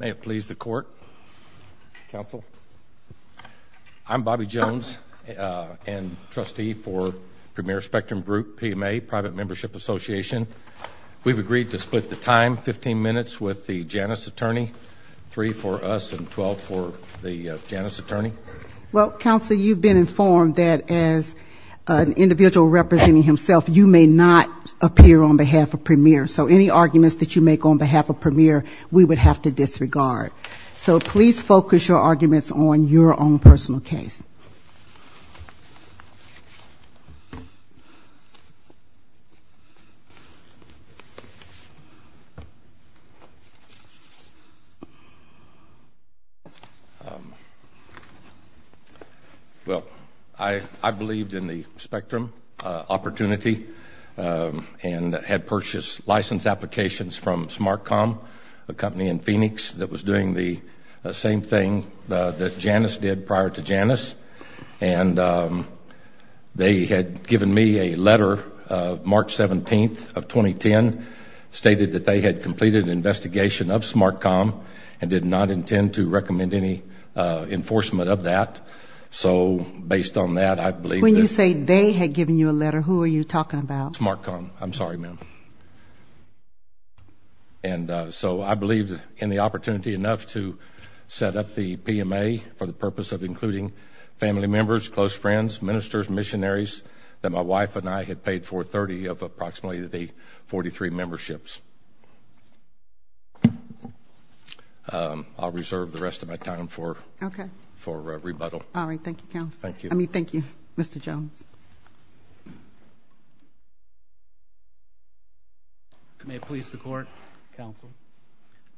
May it please the court, counsel. I'm Bobby Jones and trustee for Premier Spectrum Group, PMA, Private Membership Association. We've agreed to split the time 15 minutes with the Janus attorney, 3 for us and 12 for the Janus attorney. Well, counsel, you've been informed that as an individual representing himself you may not appear on behalf of Premier. So any arguments that you make on behalf we would have to disregard. So please focus your arguments on your own personal case. Well, I believed in the Spectrum opportunity and had purchased license applications from SmartCom, a company in Phoenix that was doing the same thing that Janus did prior to Janus. And they had given me a letter of March 17th of 2010, stated that they had completed an investigation of SmartCom and did not intend to recommend any enforcement of that. So based on that I believe... When you say they had given you a letter, who are you talking about? SmartCom. I'm sorry, ma'am. And so I believed in the opportunity enough to set up the PMA for the purpose of including family members, close friends, ministers, missionaries, that my wife and I had paid for 30 of approximately the 43 memberships. I'll reserve the rest of my time for... Okay. For rebuttal. All right. Thank you, counsel. Thank you. I mean, thank you, Mr. Jones. May it please the court, counsel.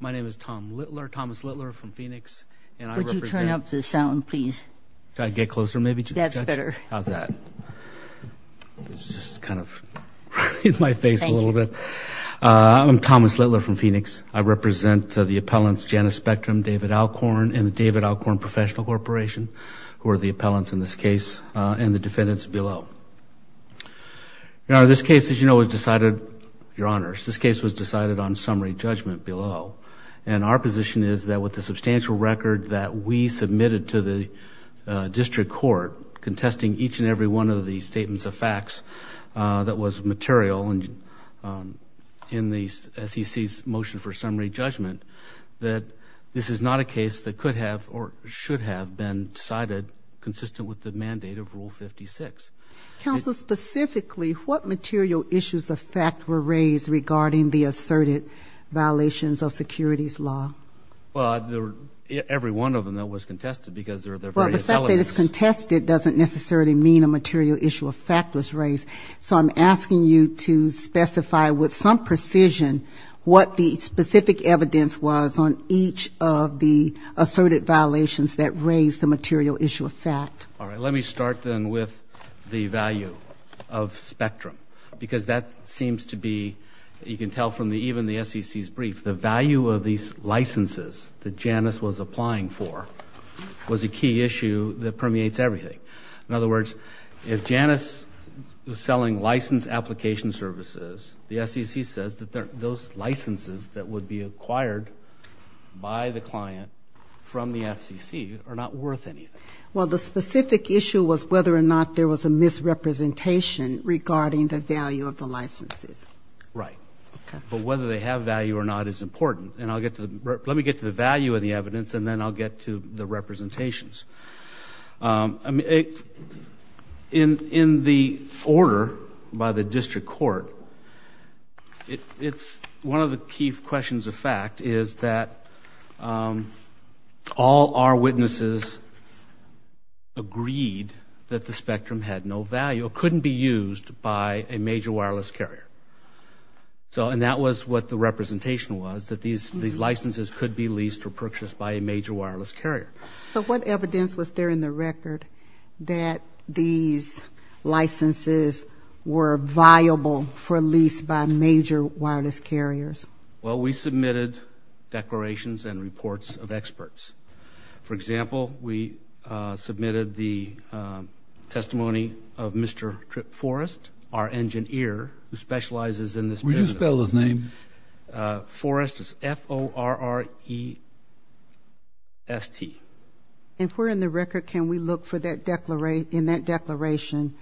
My name is Tom Littler, Thomas Littler from Phoenix. Would you turn up the sound, please? Should I get closer maybe to the judge? That's better. How's that? It's just kind of in my face a little bit. I'm Thomas Littler from Phoenix. I represent the appellants Janus Spectrum, David Alcorn, and the David Alcorn Professional Corporation, who are the appellants in this case, and the defendants below. Now this case, as you know, was decided, your honors, this case was decided on summary judgment below. And our position is that with the substantial record that we submitted to the district court, contesting each and every one of the statements of facts that was material in the SEC's motion for summary judgment, that this is not a case that could have or should have been decided consistent with the mandate of regarding the asserted violations of securities law. Well, every one of them that was contested because they're very intelligent. Well, the fact that it's contested doesn't necessarily mean a material issue of fact was raised. So I'm asking you to specify with some precision what the specific evidence was on each of the asserted violations that raised the material issue of fact. All right, let me start then with the value of spectrum. Because that seems to be, you can tell from the even the SEC's brief, the value of these licenses that Janice was applying for was a key issue that permeates everything. In other words, if Janice was selling license application services, the SEC says that those licenses that would be acquired by the client from the FCC are not worth anything. Well, the specific issue was whether or not there was a misrepresentation regarding the value of the licenses. Right, but whether they have value or not is important. And I'll get to, let me get to the value of the evidence and then I'll get to the representations. In the order by the district court, it's one of the key questions of fact is that all our witnesses agreed that the spectrum had no value, it couldn't be used by a major wireless carrier. So and that was what the representation was, that these these licenses could be leased or purchased by a major wireless carrier. So what evidence was there in the record that these licenses were viable for lease by major wireless carriers? Well, we submitted declarations and reports of experts. For example, we submitted the testimony of Mr. Tripp Forrest, our engine ear who specializes in this business. Will you spell his name? Forrest is F-O-R-R-E-S-T. If we're in the in that declaration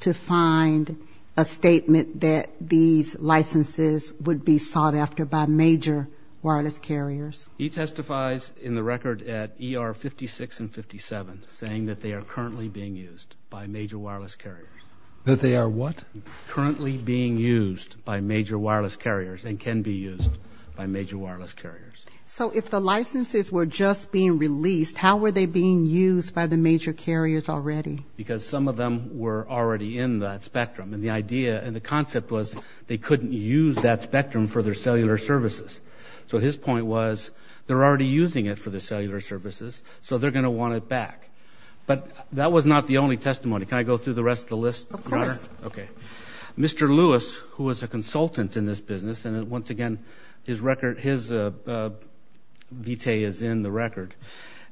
to find a statement that these licenses would be sought after by major wireless carriers. He testifies in the record at ER 56 and 57 saying that they are currently being used by major wireless carriers. That they are what? Currently being used by major wireless carriers and can be used by major wireless carriers. So if the licenses were just being released, how were they being used by the major carriers already? Because some of them were already in that spectrum and the idea and the concept was they couldn't use that spectrum for their cellular services. So his point was they're already using it for the cellular services, so they're going to want it back. But that was not the only testimony. Can I go through the rest of the list? Of course. Okay. Mr. Lewis, who was a consultant in this business and once again, his record, his vitae is in the record,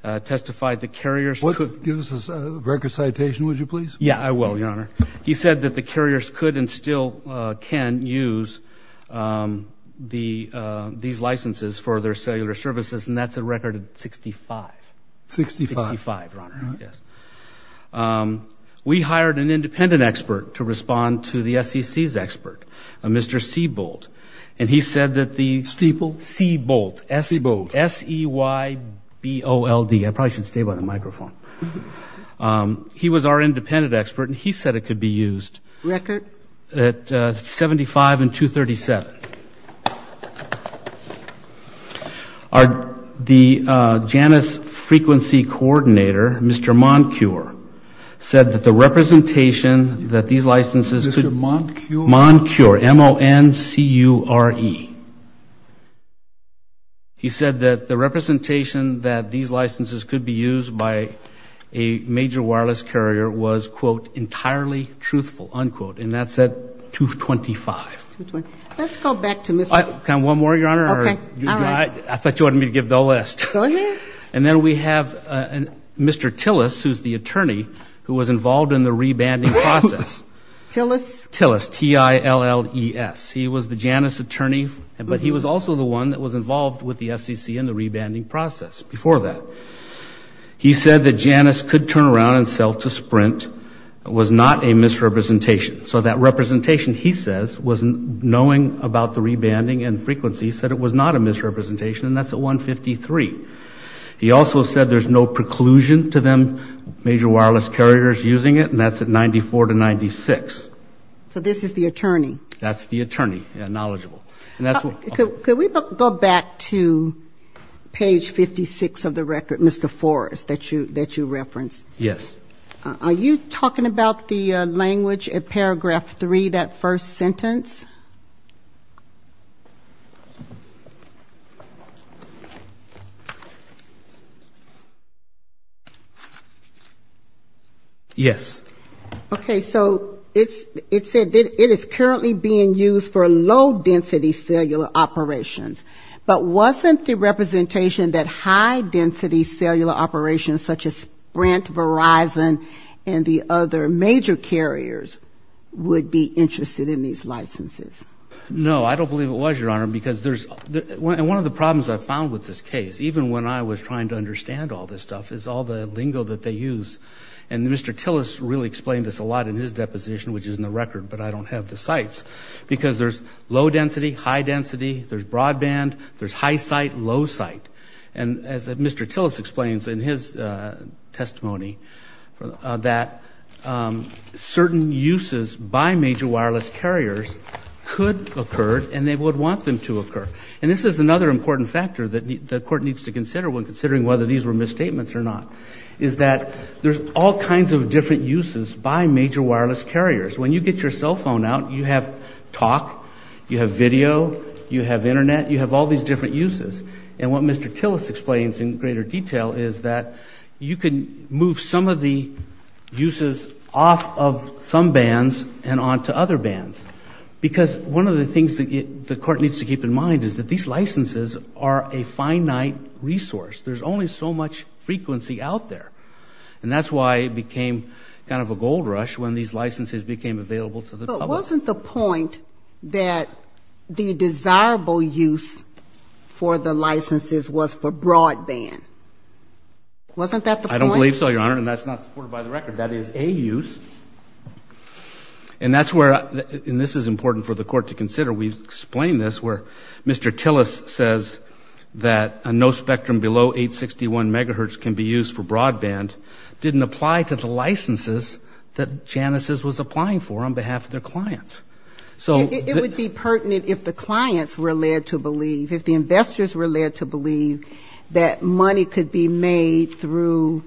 testified the carriers What? Give us a record citation, would you please? Yeah, I will, your honor. He said that the carriers could and still can use these licenses for their cellular services and that's a record of 65. 65? 65, your honor, yes. We hired an and he said that the... Steeple? C-bolt. C-bolt. S-E-Y-B-O-L-T. I probably should stay by the microphone. He was our independent expert and he said it could be used. Record? At 75 and 237. The JANIS frequency coordinator, Mr. Moncure, said that the representation that these licenses... Mr. Moncure? Moncure, M-O-N-C-U-R-E. He said that the representation that these licenses could be used by a major wireless carrier was, quote, entirely truthful, unquote, and that's at 225. Let's go back to Mr.... Can I have one more, your honor? Okay. I thought you wanted me to give the list. Go ahead. And then we have Mr. Tillis, who's the attorney, who was involved in the rebanding process. Tillis? Tillis, T-I-L-L-E-S. He was the JANIS attorney, but he was also the one that was involved with the FCC in the rebanding process before that. He said that JANIS could turn around and sell to Sprint. It was not a misrepresentation. So that representation, he says, was knowing about the rebanding and frequency, said it was not a misrepresentation, and that's at 153. He also said there's no preclusion to them, major wireless carriers using it, and that's at 94 to 96. So this is the attorney? That's the attorney, knowledgeable. Could we go back to page 56 of the record, Mr. Forrest, that you referenced? Yes. Are you talking about the language at paragraph 3, that first sentence? Yes. Okay, so it said it is currently being used for low-density cellular operations, but wasn't the representation that high-density cellular operations such as Sprint, Verizon, and the other major carriers would be interested in these licenses? No, I don't believe it was, Your Honor, because there's one of the problems I found with this case, even when I was trying to understand all this use, and Mr. Tillis really explained this a lot in his deposition, which is in the record, but I don't have the sites, because there's low-density, high-density, there's broadband, there's high-site, low-site. And as Mr. Tillis explains in his testimony, that certain uses by major wireless carriers could occur, and they would want them to occur. And this is another important factor that the court needs to consider when considering whether these were misstatements or not, is that there's all kinds of different uses by major wireless carriers. When you get your cell phone out, you have talk, you have video, you have internet, you have all these different uses. And what Mr. Tillis explains in greater detail is that you can move some of the uses off of some bands and on to other bands, because one of the things that the court needs to keep in mind is that these are out there. And that's why it became kind of a gold rush when these licenses became available to the public. But wasn't the point that the desirable use for the licenses was for broadband? Wasn't that the point? I don't believe so, Your Honor, and that's not supported by the record. That is a use. And that's where, and this is important for the court to consider, we've explained this, where Mr. Tillis says that a no spectrum below 861 megahertz can be used for broadband didn't apply to the licenses that Janus' was applying for on behalf of their clients. So It would be pertinent if the clients were led to believe, if the investors were led to believe that money could be made through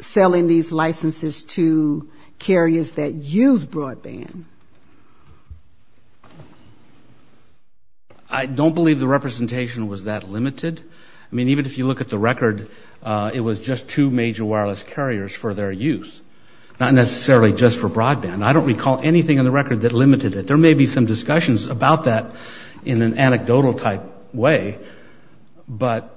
selling these licenses to carriers that use broadband. I don't believe the representation was that limited. I mean, even if you look at the record, it was just two major wireless carriers for their use, not necessarily just for broadband. I don't recall anything on the record that limited it. There may be some discussions about that in an anecdotal type way, but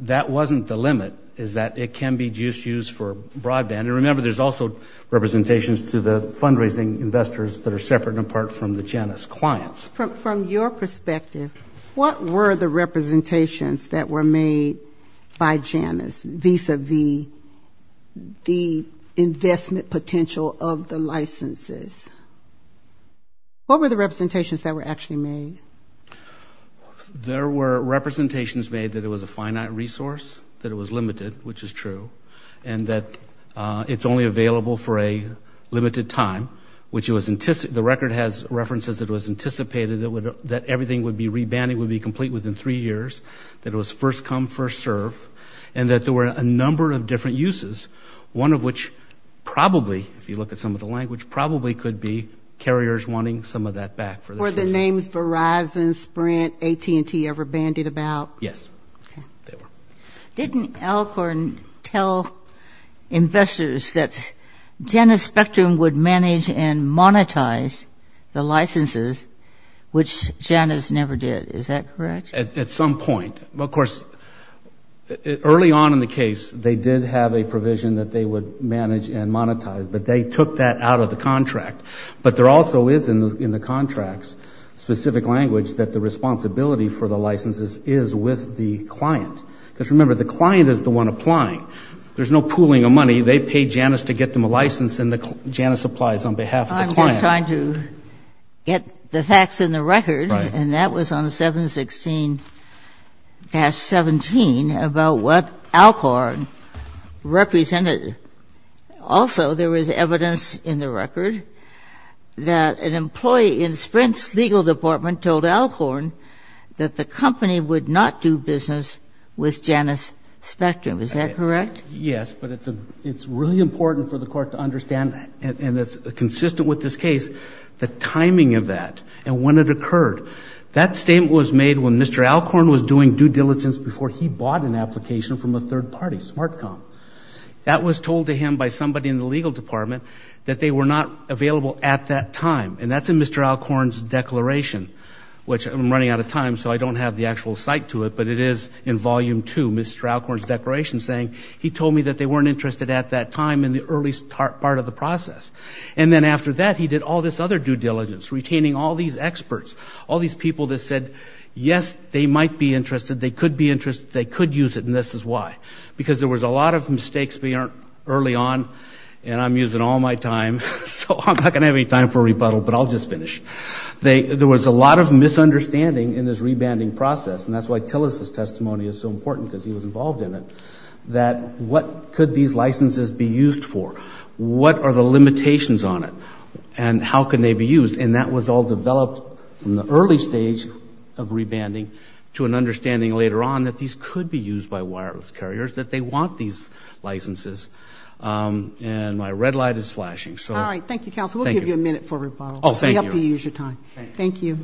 that wasn't the limit, is that it can be used for broadband. And remember, there's also representations to the fundraising investors that are separate and apart from the Janus clients. From your perspective, what were the representations that were made by Janus vis-a-vis the investment potential of the licenses? What were the representations that were actually made? There were representations made that it was a finite resource, that it was limited, which is true, and that it's only available for a limited time, which the record has references that it was anticipated that everything would be rebanded, would be complete within three years, that it was first come, first serve, and that there were a number of different uses, one of which probably, if you look at some of the language, probably could be carriers wanting some of that back. Were the names Verizon, Sprint, AT&T ever used? They were. Didn't Alcorn tell investors that Janus Spectrum would manage and monetize the licenses, which Janus never did, is that correct? At some point. Of course, early on in the case, they did have a provision that they would manage and monetize, but they took that out of the contract. But there also is in the contract's specific language that the responsibility for the licenses is with the client. Because remember, the client is the one applying. There's no pooling of money. They pay Janus to get them a license, and Janus applies on behalf of the client. I'm just trying to get the facts in the record, and that was on 716-17 about what Alcorn represented. Also, there was evidence in the record that an employee in Sprint's legal department told Alcorn that the company would not do business with Janus Spectrum. Is that correct? Yes, but it's really important for the court to understand that, and it's consistent with this case, the timing of that and when it occurred. That statement was made when Mr. Alcorn was doing due diligence before he bought an application from a third party, SmartCom. That was told to him by somebody in the legal department that they were not available at that time, and that's in Mr. Alcorn's declaration, which I'm running out of time, so I don't have the actual site to it, but it is in Volume 2, Mr. Alcorn's declaration saying, he told me that they weren't interested at that time in the early part of the process. And then after that, he did all this other due diligence, retaining all these experts, all these people that said, yes, they might be interested, they could be interested, they could use it, and this is why. Because there was a lot of mistakes early on, and I'm using all my time, so I'm not going to have any time for a rebuttal, but I'll just finish. There was a lot of misunderstanding in this rebanding process, and that's why Tillis' testimony is so important, because he was involved in it, that what could these licenses be used for? What are the limitations on it? And how can they be used? And that was all developed in the early stage of rebanding to an understanding later on that these could be used by wireless carriers, that they want these licenses. And my red light is flashing, so. All right. Thank you, counsel. We'll give you a minute for a rebuttal. Oh, thank you. We hope you use your time. Thank you.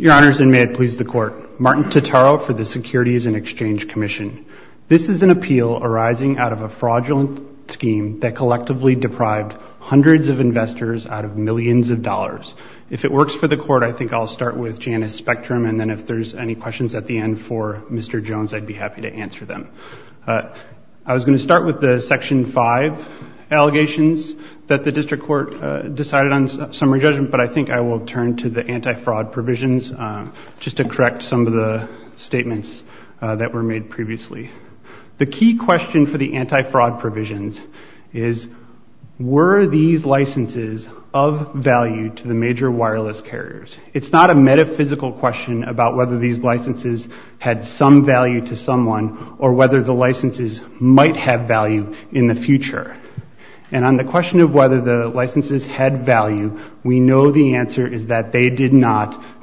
Your Honors, and may it please the Court. Martin Totaro for the Securities and Exchange Commission. This is an appeal arising out of a fraudulent scheme that collectively deprived hundreds of investors out of millions of dollars. If it works for the Court, I think I'll start with Janice Spectrum, and then if there's any questions at the end for Mr. Jones, I'd be happy to answer them. I was going to start with the Section 5 allegations that the District Court decided on summary judgment, but I think I will turn to the anti-fraud provisions, just to correct some of the statements that were made previously. The key question for the anti-fraud provisions is, were these licenses of value to the major wireless carriers? It's not a metaphysical question about whether these licenses had some value to someone or whether the licenses might have value in the future. And on the question of whether the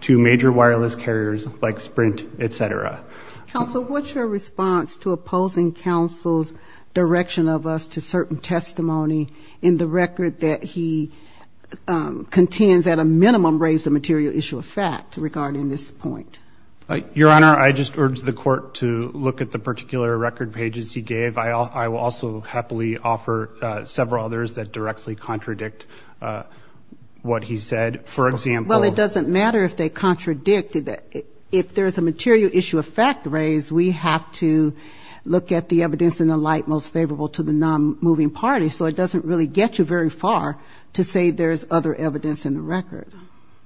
major wireless carriers, like Sprint, et cetera. Counsel, what's your response to opposing counsel's direction of us to certain testimony in the record that he contends at a minimum raised a material issue of fact regarding this point? Your Honor, I just urge the Court to look at the particular record pages he gave. I will also happily offer several others that directly contradict what he said. For example... Well, it doesn't matter if they contradict. If there's a material issue of fact raised, we have to look at the evidence in the light most favorable to the non-moving party. So it doesn't really get you very far to say there's other evidence in the record.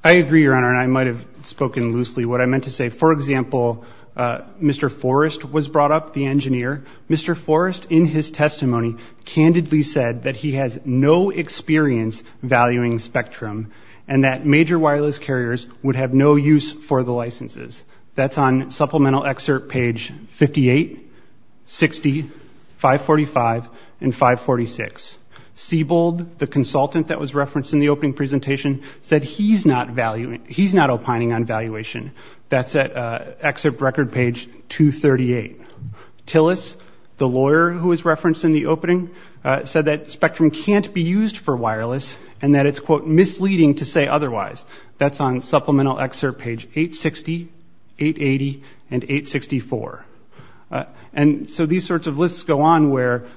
I agree, Your Honor, and I might have spoken loosely. What I meant to say, for example, Mr. Forrest was brought up, the engineer. Mr. Forrest, in his testimony, candidly said that he has no experience valuing Spectrum and that major wireless carriers would have no use for the licenses. That's on supplemental excerpt page 58, 60, 545, and 546. Sebald, the consultant that was referenced in the opening presentation, said he's not opining on valuation. That's at excerpt record page 238. Tillis, the lawyer who was referenced in the opening, said that Spectrum can't be used for wireless and that it's, quote, misleading to say otherwise. That's on supplemental excerpt page 860, 880, and 864. And so these sorts of lists go on where,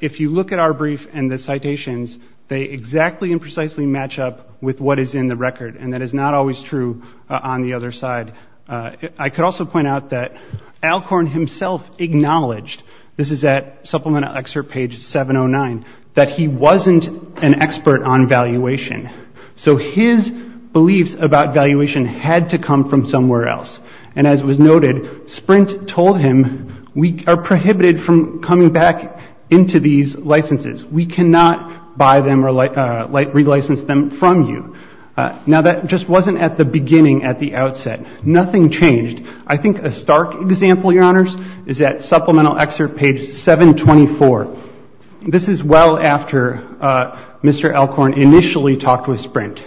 if you look at our brief and the citations, they exactly and precisely match up with what is in the record, and that is not always true on the other side. I could also point out that Alcorn himself acknowledged, this is at supplemental excerpt page 709, that he wasn't an expert on valuation. So his beliefs about valuation had to come from somewhere else. And as was noted, Sprint told him, we are prohibited from coming back into these licenses. We cannot buy them or relicense them from you. Now, that just wasn't at the beginning, at the outset. Nothing changed. I think a stark example, Your Honors, is at supplemental excerpt page 724. This is well after Mr. Alcorn initially talked with Sprint.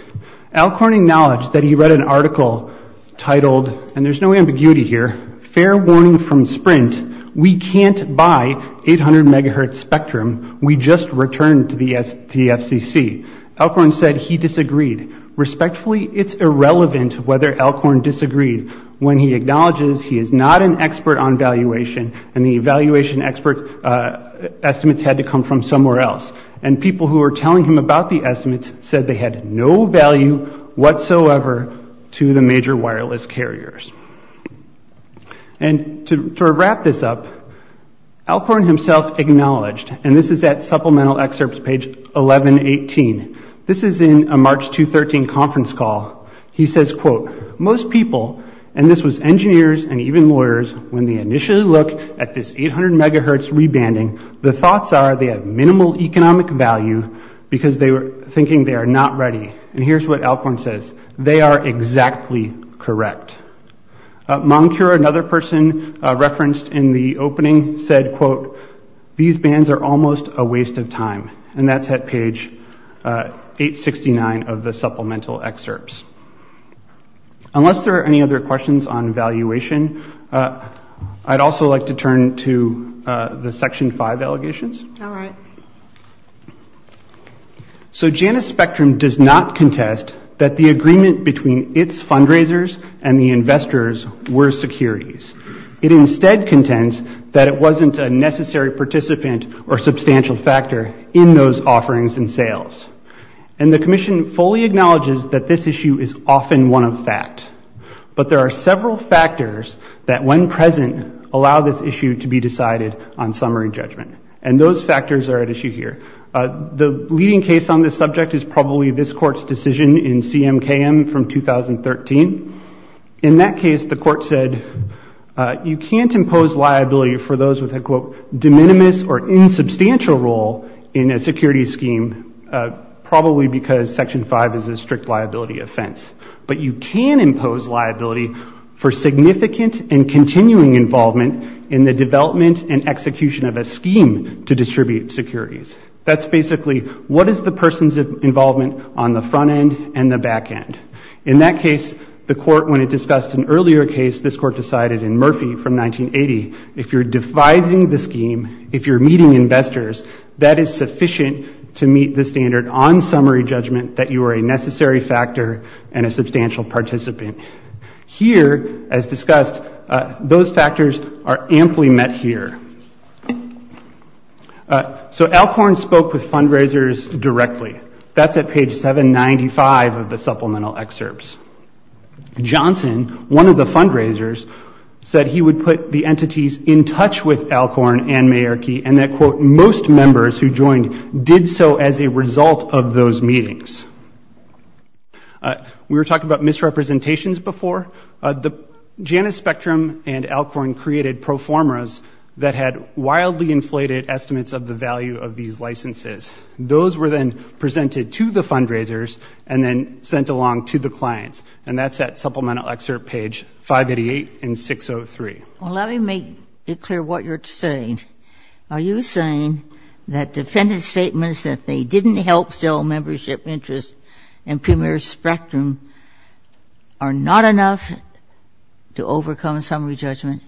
Alcorn acknowledged that he read an article titled, and there's no ambiguity here, fair warning from Sprint, we can't buy 800 megahertz Spectrum. We just returned to the FCC. Alcorn said he disagreed. Respectfully, it's irrelevant whether Alcorn disagreed when he acknowledges he is not an expert on valuation, and the valuation expert estimates had to come from somewhere else. And people who were telling him about the estimates said they had no value whatsoever to the major wireless carriers. And to wrap this up, Alcorn himself acknowledged, and this is at supplemental excerpt page 1118, this is in a March 2013 conference call. He says, quote, most people, and this was engineers and even lawyers, when they initially look at this 800 megahertz rebanding, the thoughts are they have minimal economic value because they were thinking they are not ready. And here's what Alcorn says, they are exactly correct. Moncure, another person referenced in the opening, said, quote, these bands are almost a waste of time. And that's at page 869 of the supplemental excerpts. Unless there are any other questions on valuation, I'd also like to turn to the section 5 allegations. So Janus Spectrum does not contest that the it wasn't a necessary participant or substantial factor in those offerings and sales. And the commission fully acknowledges that this issue is often one of fact. But there are several factors that, when present, allow this issue to be decided on summary judgment. And those factors are at issue here. The leading case on this subject is probably this Court's decision in CMKM from 2013. In that case, the Court said, you can't impose liability for those with a, quote, de minimis or insubstantial role in a security scheme, probably because section 5 is a strict liability offense. But you can impose liability for significant and continuing involvement in the development and execution of a scheme to distribute securities. That's basically, what is the person's involvement on the front end and the back end? In that case, the Court, when it discussed an earlier case, this Court decided in Murphy from 1980, if you're devising the scheme, if you're meeting investors, that is sufficient to meet the standard on summary judgment that you are a necessary factor and a substantial participant. Here, as discussed, those factors are amply met here. So Alcorn's claim is that, quote, Alcorn spoke with fundraisers directly. That's at page 795 of the supplemental excerpts. Johnson, one of the fundraisers, said he would put the entities in touch with Alcorn and Mayerky and that, quote, most members who joined did so as a result of those meetings. We were talking about misrepresentations before. The Janus Spectrum and Alcorn created pro licenses. Those were then presented to the fundraisers and then sent along to the clients. And that's at supplemental excerpt page 588 and 603. Well, let me make it clear what you're saying. Are you saying that defendant's statements that they didn't help sell membership interests in Premier Spectrum are not enough to overcome summary judgment?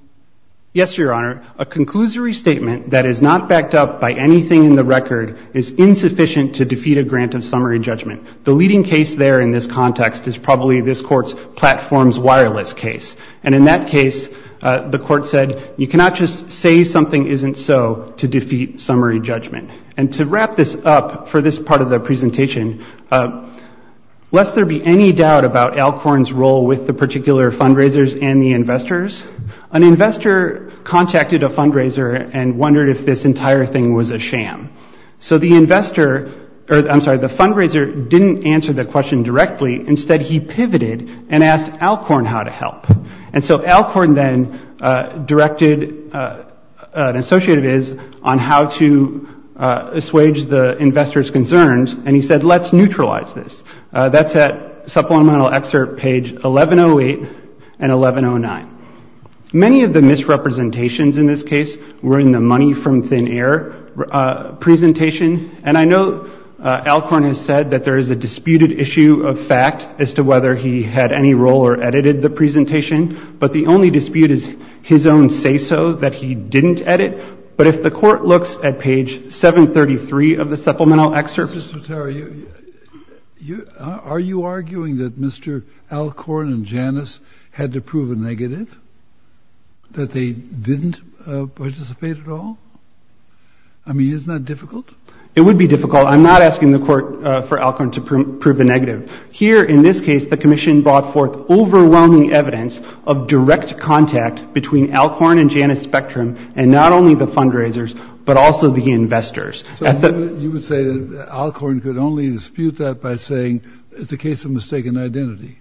Yes, Your Honor. A conclusory statement that is not backed up by anything in the record is insufficient to defeat a grant of summary judgment. The leading case there in this context is probably this Court's platforms wireless case. And in that case, the Court said you cannot just say something isn't so to defeat summary judgment. And to wrap this up for this part of the presentation, lest there be any doubt about Alcorn's role with the particular fundraisers and the investors, an investor contacted a fundraiser and wondered if this entire thing was a sham. So the investor, or I'm sorry, the fundraiser didn't answer the question directly. Instead, he pivoted and asked Alcorn how to help. And so Alcorn then directed an associate of his on how to assuage the investor's concerns. And he said, let's neutralize this. That's at supplemental excerpt page 1108 and 1109. Many of the misrepresentations in this case were in the money from thin air presentation. And I know Alcorn has said that there is a disputed issue of fact as to whether he had any role or edited the presentation. But the only dispute is his own say-so that he didn't edit. But if the Court looks at page 733 of the supplemental excerpt. Mr. Tarr, are you arguing that Mr. Alcorn and Janus had to prove a negative, that they didn't participate at all? I mean, isn't that difficult? It would be difficult. I'm not asking the Court for Alcorn to prove a negative. Here in this case, the Commission brought forth overwhelming evidence of direct contact between Alcorn and Janus Spectrum and not only the fundraisers, but also the investors. So you would say that Alcorn could only dispute that by saying it's a case of mistaken identity?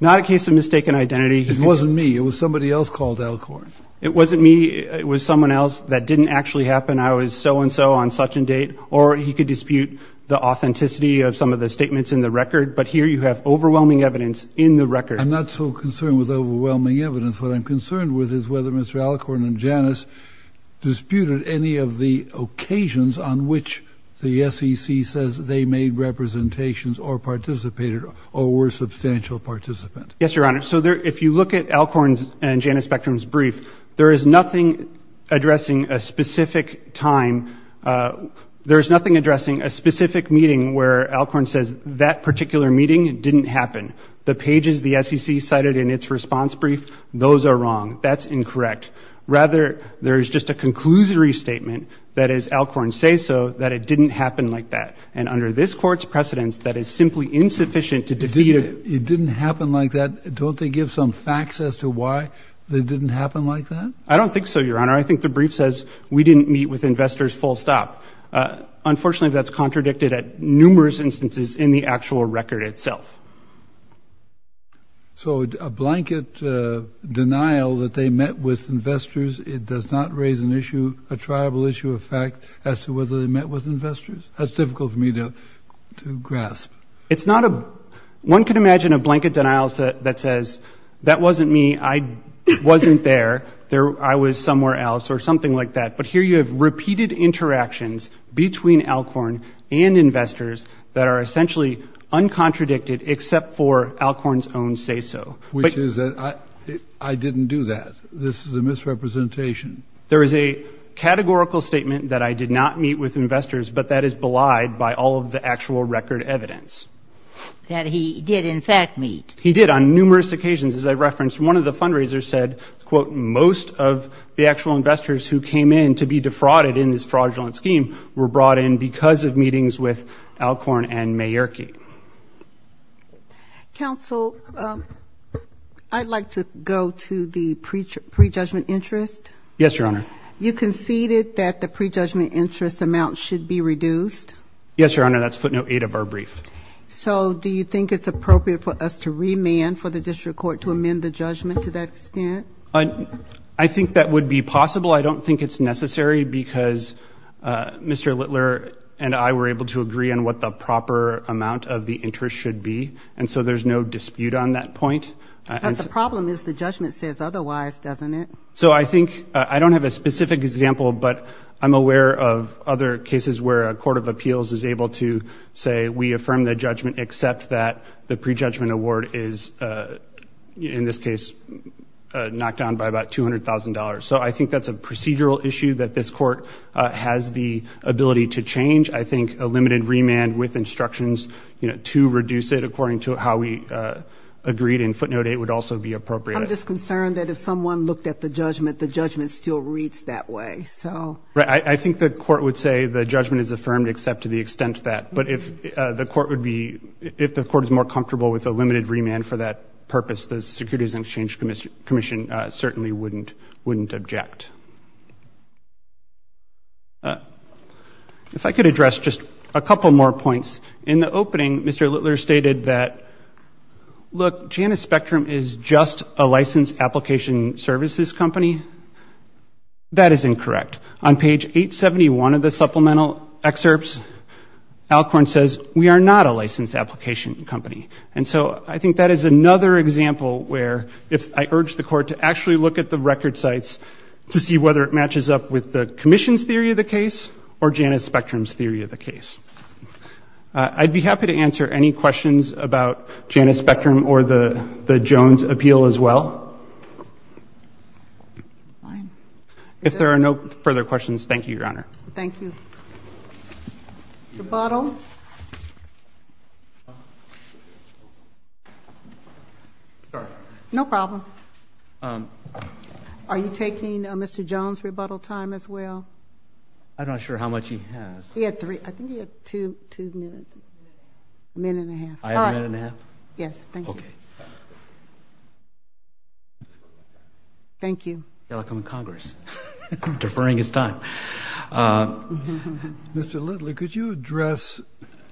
Not a case of mistaken identity. It wasn't me. It was somebody else called Alcorn. It wasn't me. It was someone else. That didn't actually happen. I was so-and-so on such-and-date. Or he could dispute the authenticity of some of the statements in the record. But here you have overwhelming evidence in the record. I'm not so concerned with overwhelming evidence. What I'm concerned with is whether Mr. Alcorn and Janus disputed any of the occasions on which the SEC says they made representations or participated or were a substantial participant. Yes, Your Honor. So if you look at Alcorn's and Janus Spectrum's brief, there is nothing addressing a specific time. There is nothing addressing a specific meeting where Alcorn says that particular meeting didn't happen. The pages the SEC cited in its response brief, those are wrong. That's incorrect. Rather, there is just a conclusory statement that is Alcorn's say-so, that it didn't happen like that. And under this Court's precedence, that is simply insufficient to defeat it. It didn't happen like that? Don't they give some facts as to why it didn't happen like that? I don't think so, Your Honor. I think the brief says we didn't meet with investors full stop. Unfortunately, that's contradicted at numerous instances in the actual record itself. So a blanket denial that they met with investors, it does not raise an issue, a triable issue of fact as to whether they met with investors? That's difficult for me to grasp. It's not a, one could imagine a blanket denial that says that wasn't me, I wasn't there, I was somewhere else or something like that. But here you have repeated interactions between uncontradicted except for Alcorn's own say-so. Which is that I didn't do that. This is a misrepresentation. There is a categorical statement that I did not meet with investors, but that is belied by all of the actual record evidence. That he did in fact meet. He did on numerous occasions. As I referenced, one of the fundraisers said, quote, most of the actual investors who came in to be defrauded in this fraudulent scheme were brought in because of meetings with Alcorn and Mayerky. Counsel, I'd like to go to the prejudgment interest. Yes, Your Honor. You conceded that the prejudgment interest amount should be reduced? Yes, Your Honor, that's footnote eight of our brief. So do you think it's appropriate for us to remand for the district court to amend the judgment to that extent? I think that would be possible. I don't think it's necessary because Mr. Littler and I were able to agree on what the proper amount of the interest should be. And so there's no dispute on that point. But the problem is the judgment says otherwise, doesn't it? So I think, I don't have a specific example, but I'm aware of other cases where a court of appeals is able to say, we affirm the judgment except that the prejudgment award is, in this case, knocked down by about $200,000. So I think that's a procedural issue that this court has the ability to change. I think a limited remand with instructions to reduce it according to how we agreed in footnote eight would also be appropriate. I'm just concerned that if someone looked at the judgment, the judgment still reads that way. Right. I think the court would say the judgment is affirmed except to the extent that. But if the court would be, if the court is more comfortable with a limited remand for that purpose, the Securities and Exchange Commission certainly wouldn't object. If I could address just a couple more points. In the opening, Mr. Littler stated that, look, Janus Spectrum is just a licensed application services company. That is incorrect. On page 871 of the supplemental excerpts, Alcorn says, we are not a licensed application company. And so I think that is another example where if I urge the court to actually look at the record sites to see whether it matches up with the Commission's theory of the case or Janus Spectrum's theory of the case. I'd be happy to answer any questions about Janus Spectrum or the Jones appeal as well. If there are no further questions, thank you, Your Honor. Thank you. Rebuttal. Sorry. No problem. Are you taking Mr. Jones' rebuttal time as well? I'm not sure how much he has. He had three. I think he had two minutes. A minute and a half. I have a minute and a half? Yes, thank you. Okay. Thank you. Welcome to Congress. Deferring his time. Mr. Litley, could you address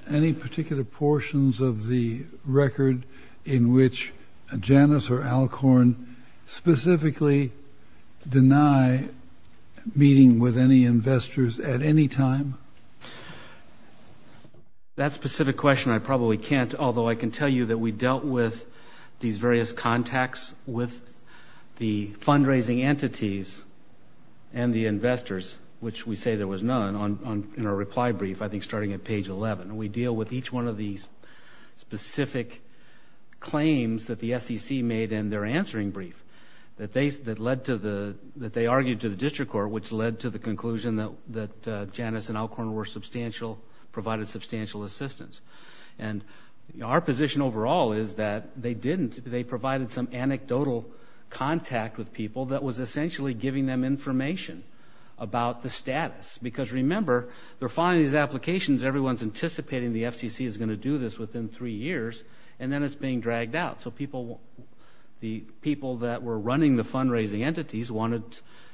any particular portions of the record in which Janus or Alcorn specifically deny meeting with any investors at any time? That specific question I probably can't, although I can tell you that we dealt with these various contacts with the fundraising entities and the investors, which we say there was none, in our reply brief, I think starting at page 11. We deal with each one of these specific claims that the SEC made in their answering brief that they argued to the district court, which led to the conclusion that Janus and Alcorn were substantial, provided substantial assistance. And our position overall is that they didn't. They provided some anecdotal contact with people that was essentially giving them information about the status. Because remember, they're filing these applications. Everyone's anticipating the FCC is going to do this within three years, and then it's being dragged out. So the people that were running the fundraising entities wanted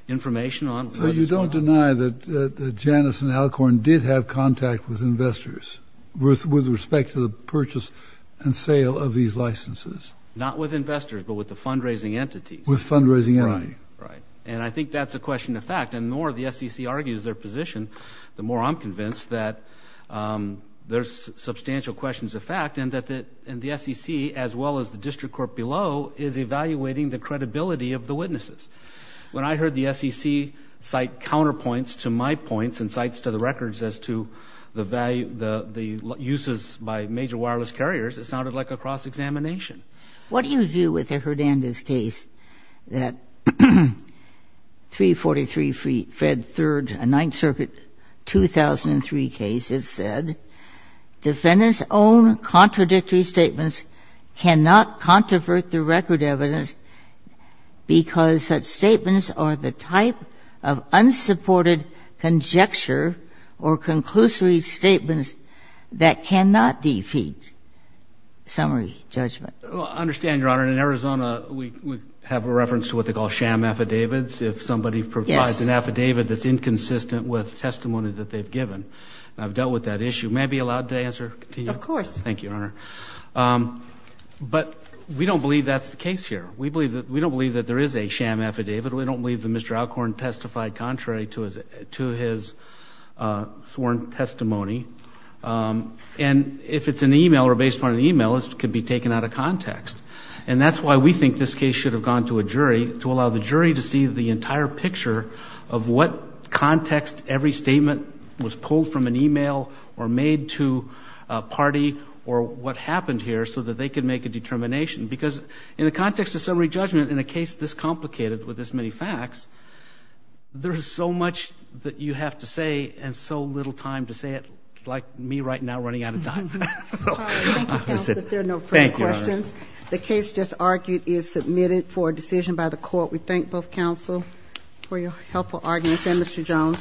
information on what is going on. So you're saying that Janus and Alcorn did have contact with investors with respect to the purchase and sale of these licenses? Not with investors, but with the fundraising entities. With fundraising entities. Right. And I think that's a question of fact. And the more the SEC argues their position, the more I'm convinced that there's substantial questions of fact and that the SEC, as well as the district court below, is evaluating the credibility of the witnesses. When I heard the SEC cite counterpoints to my points and cites to the records as to the value, the uses by major wireless carriers, it sounded like a cross-examination. What do you do with a Hernandez case that 343 Fed 3rd, a 9th Circuit 2003 case, has said defendants' own contradictory statements cannot controvert the record evidence because such statements are the type of unsupported conjecture or conclusory statements that cannot defeat summary judgment? I understand, Your Honor. In Arizona, we have a reference to what they call sham affidavits. Yes. If somebody provides an affidavit that's inconsistent with testimony that they've given. I've dealt with that issue. May I be allowed to answer? Of course. Thank you, Your Honor. But we don't believe that's the case here. We don't believe that there is a sham affidavit. We don't believe that Mr. Alcorn testified contrary to his sworn testimony. And if it's an email or based upon an email, it could be taken out of context. And that's why we think this case should have gone to a jury, to allow the jury to see the entire picture of what context every statement was pulled from an email or made to a party or what happened here so that they could make a determination. Because in the context of summary judgment, in a case this complicated with this many facts, there's so much that you have to say and so little time to say it, like me right now running out of time. Thank you, counsel, if there are no further questions. Thank you, Your Honor. The case just argued is submitted for a decision by the court. We thank both counsel for your helpful arguments. Thank you, Mr. Jones.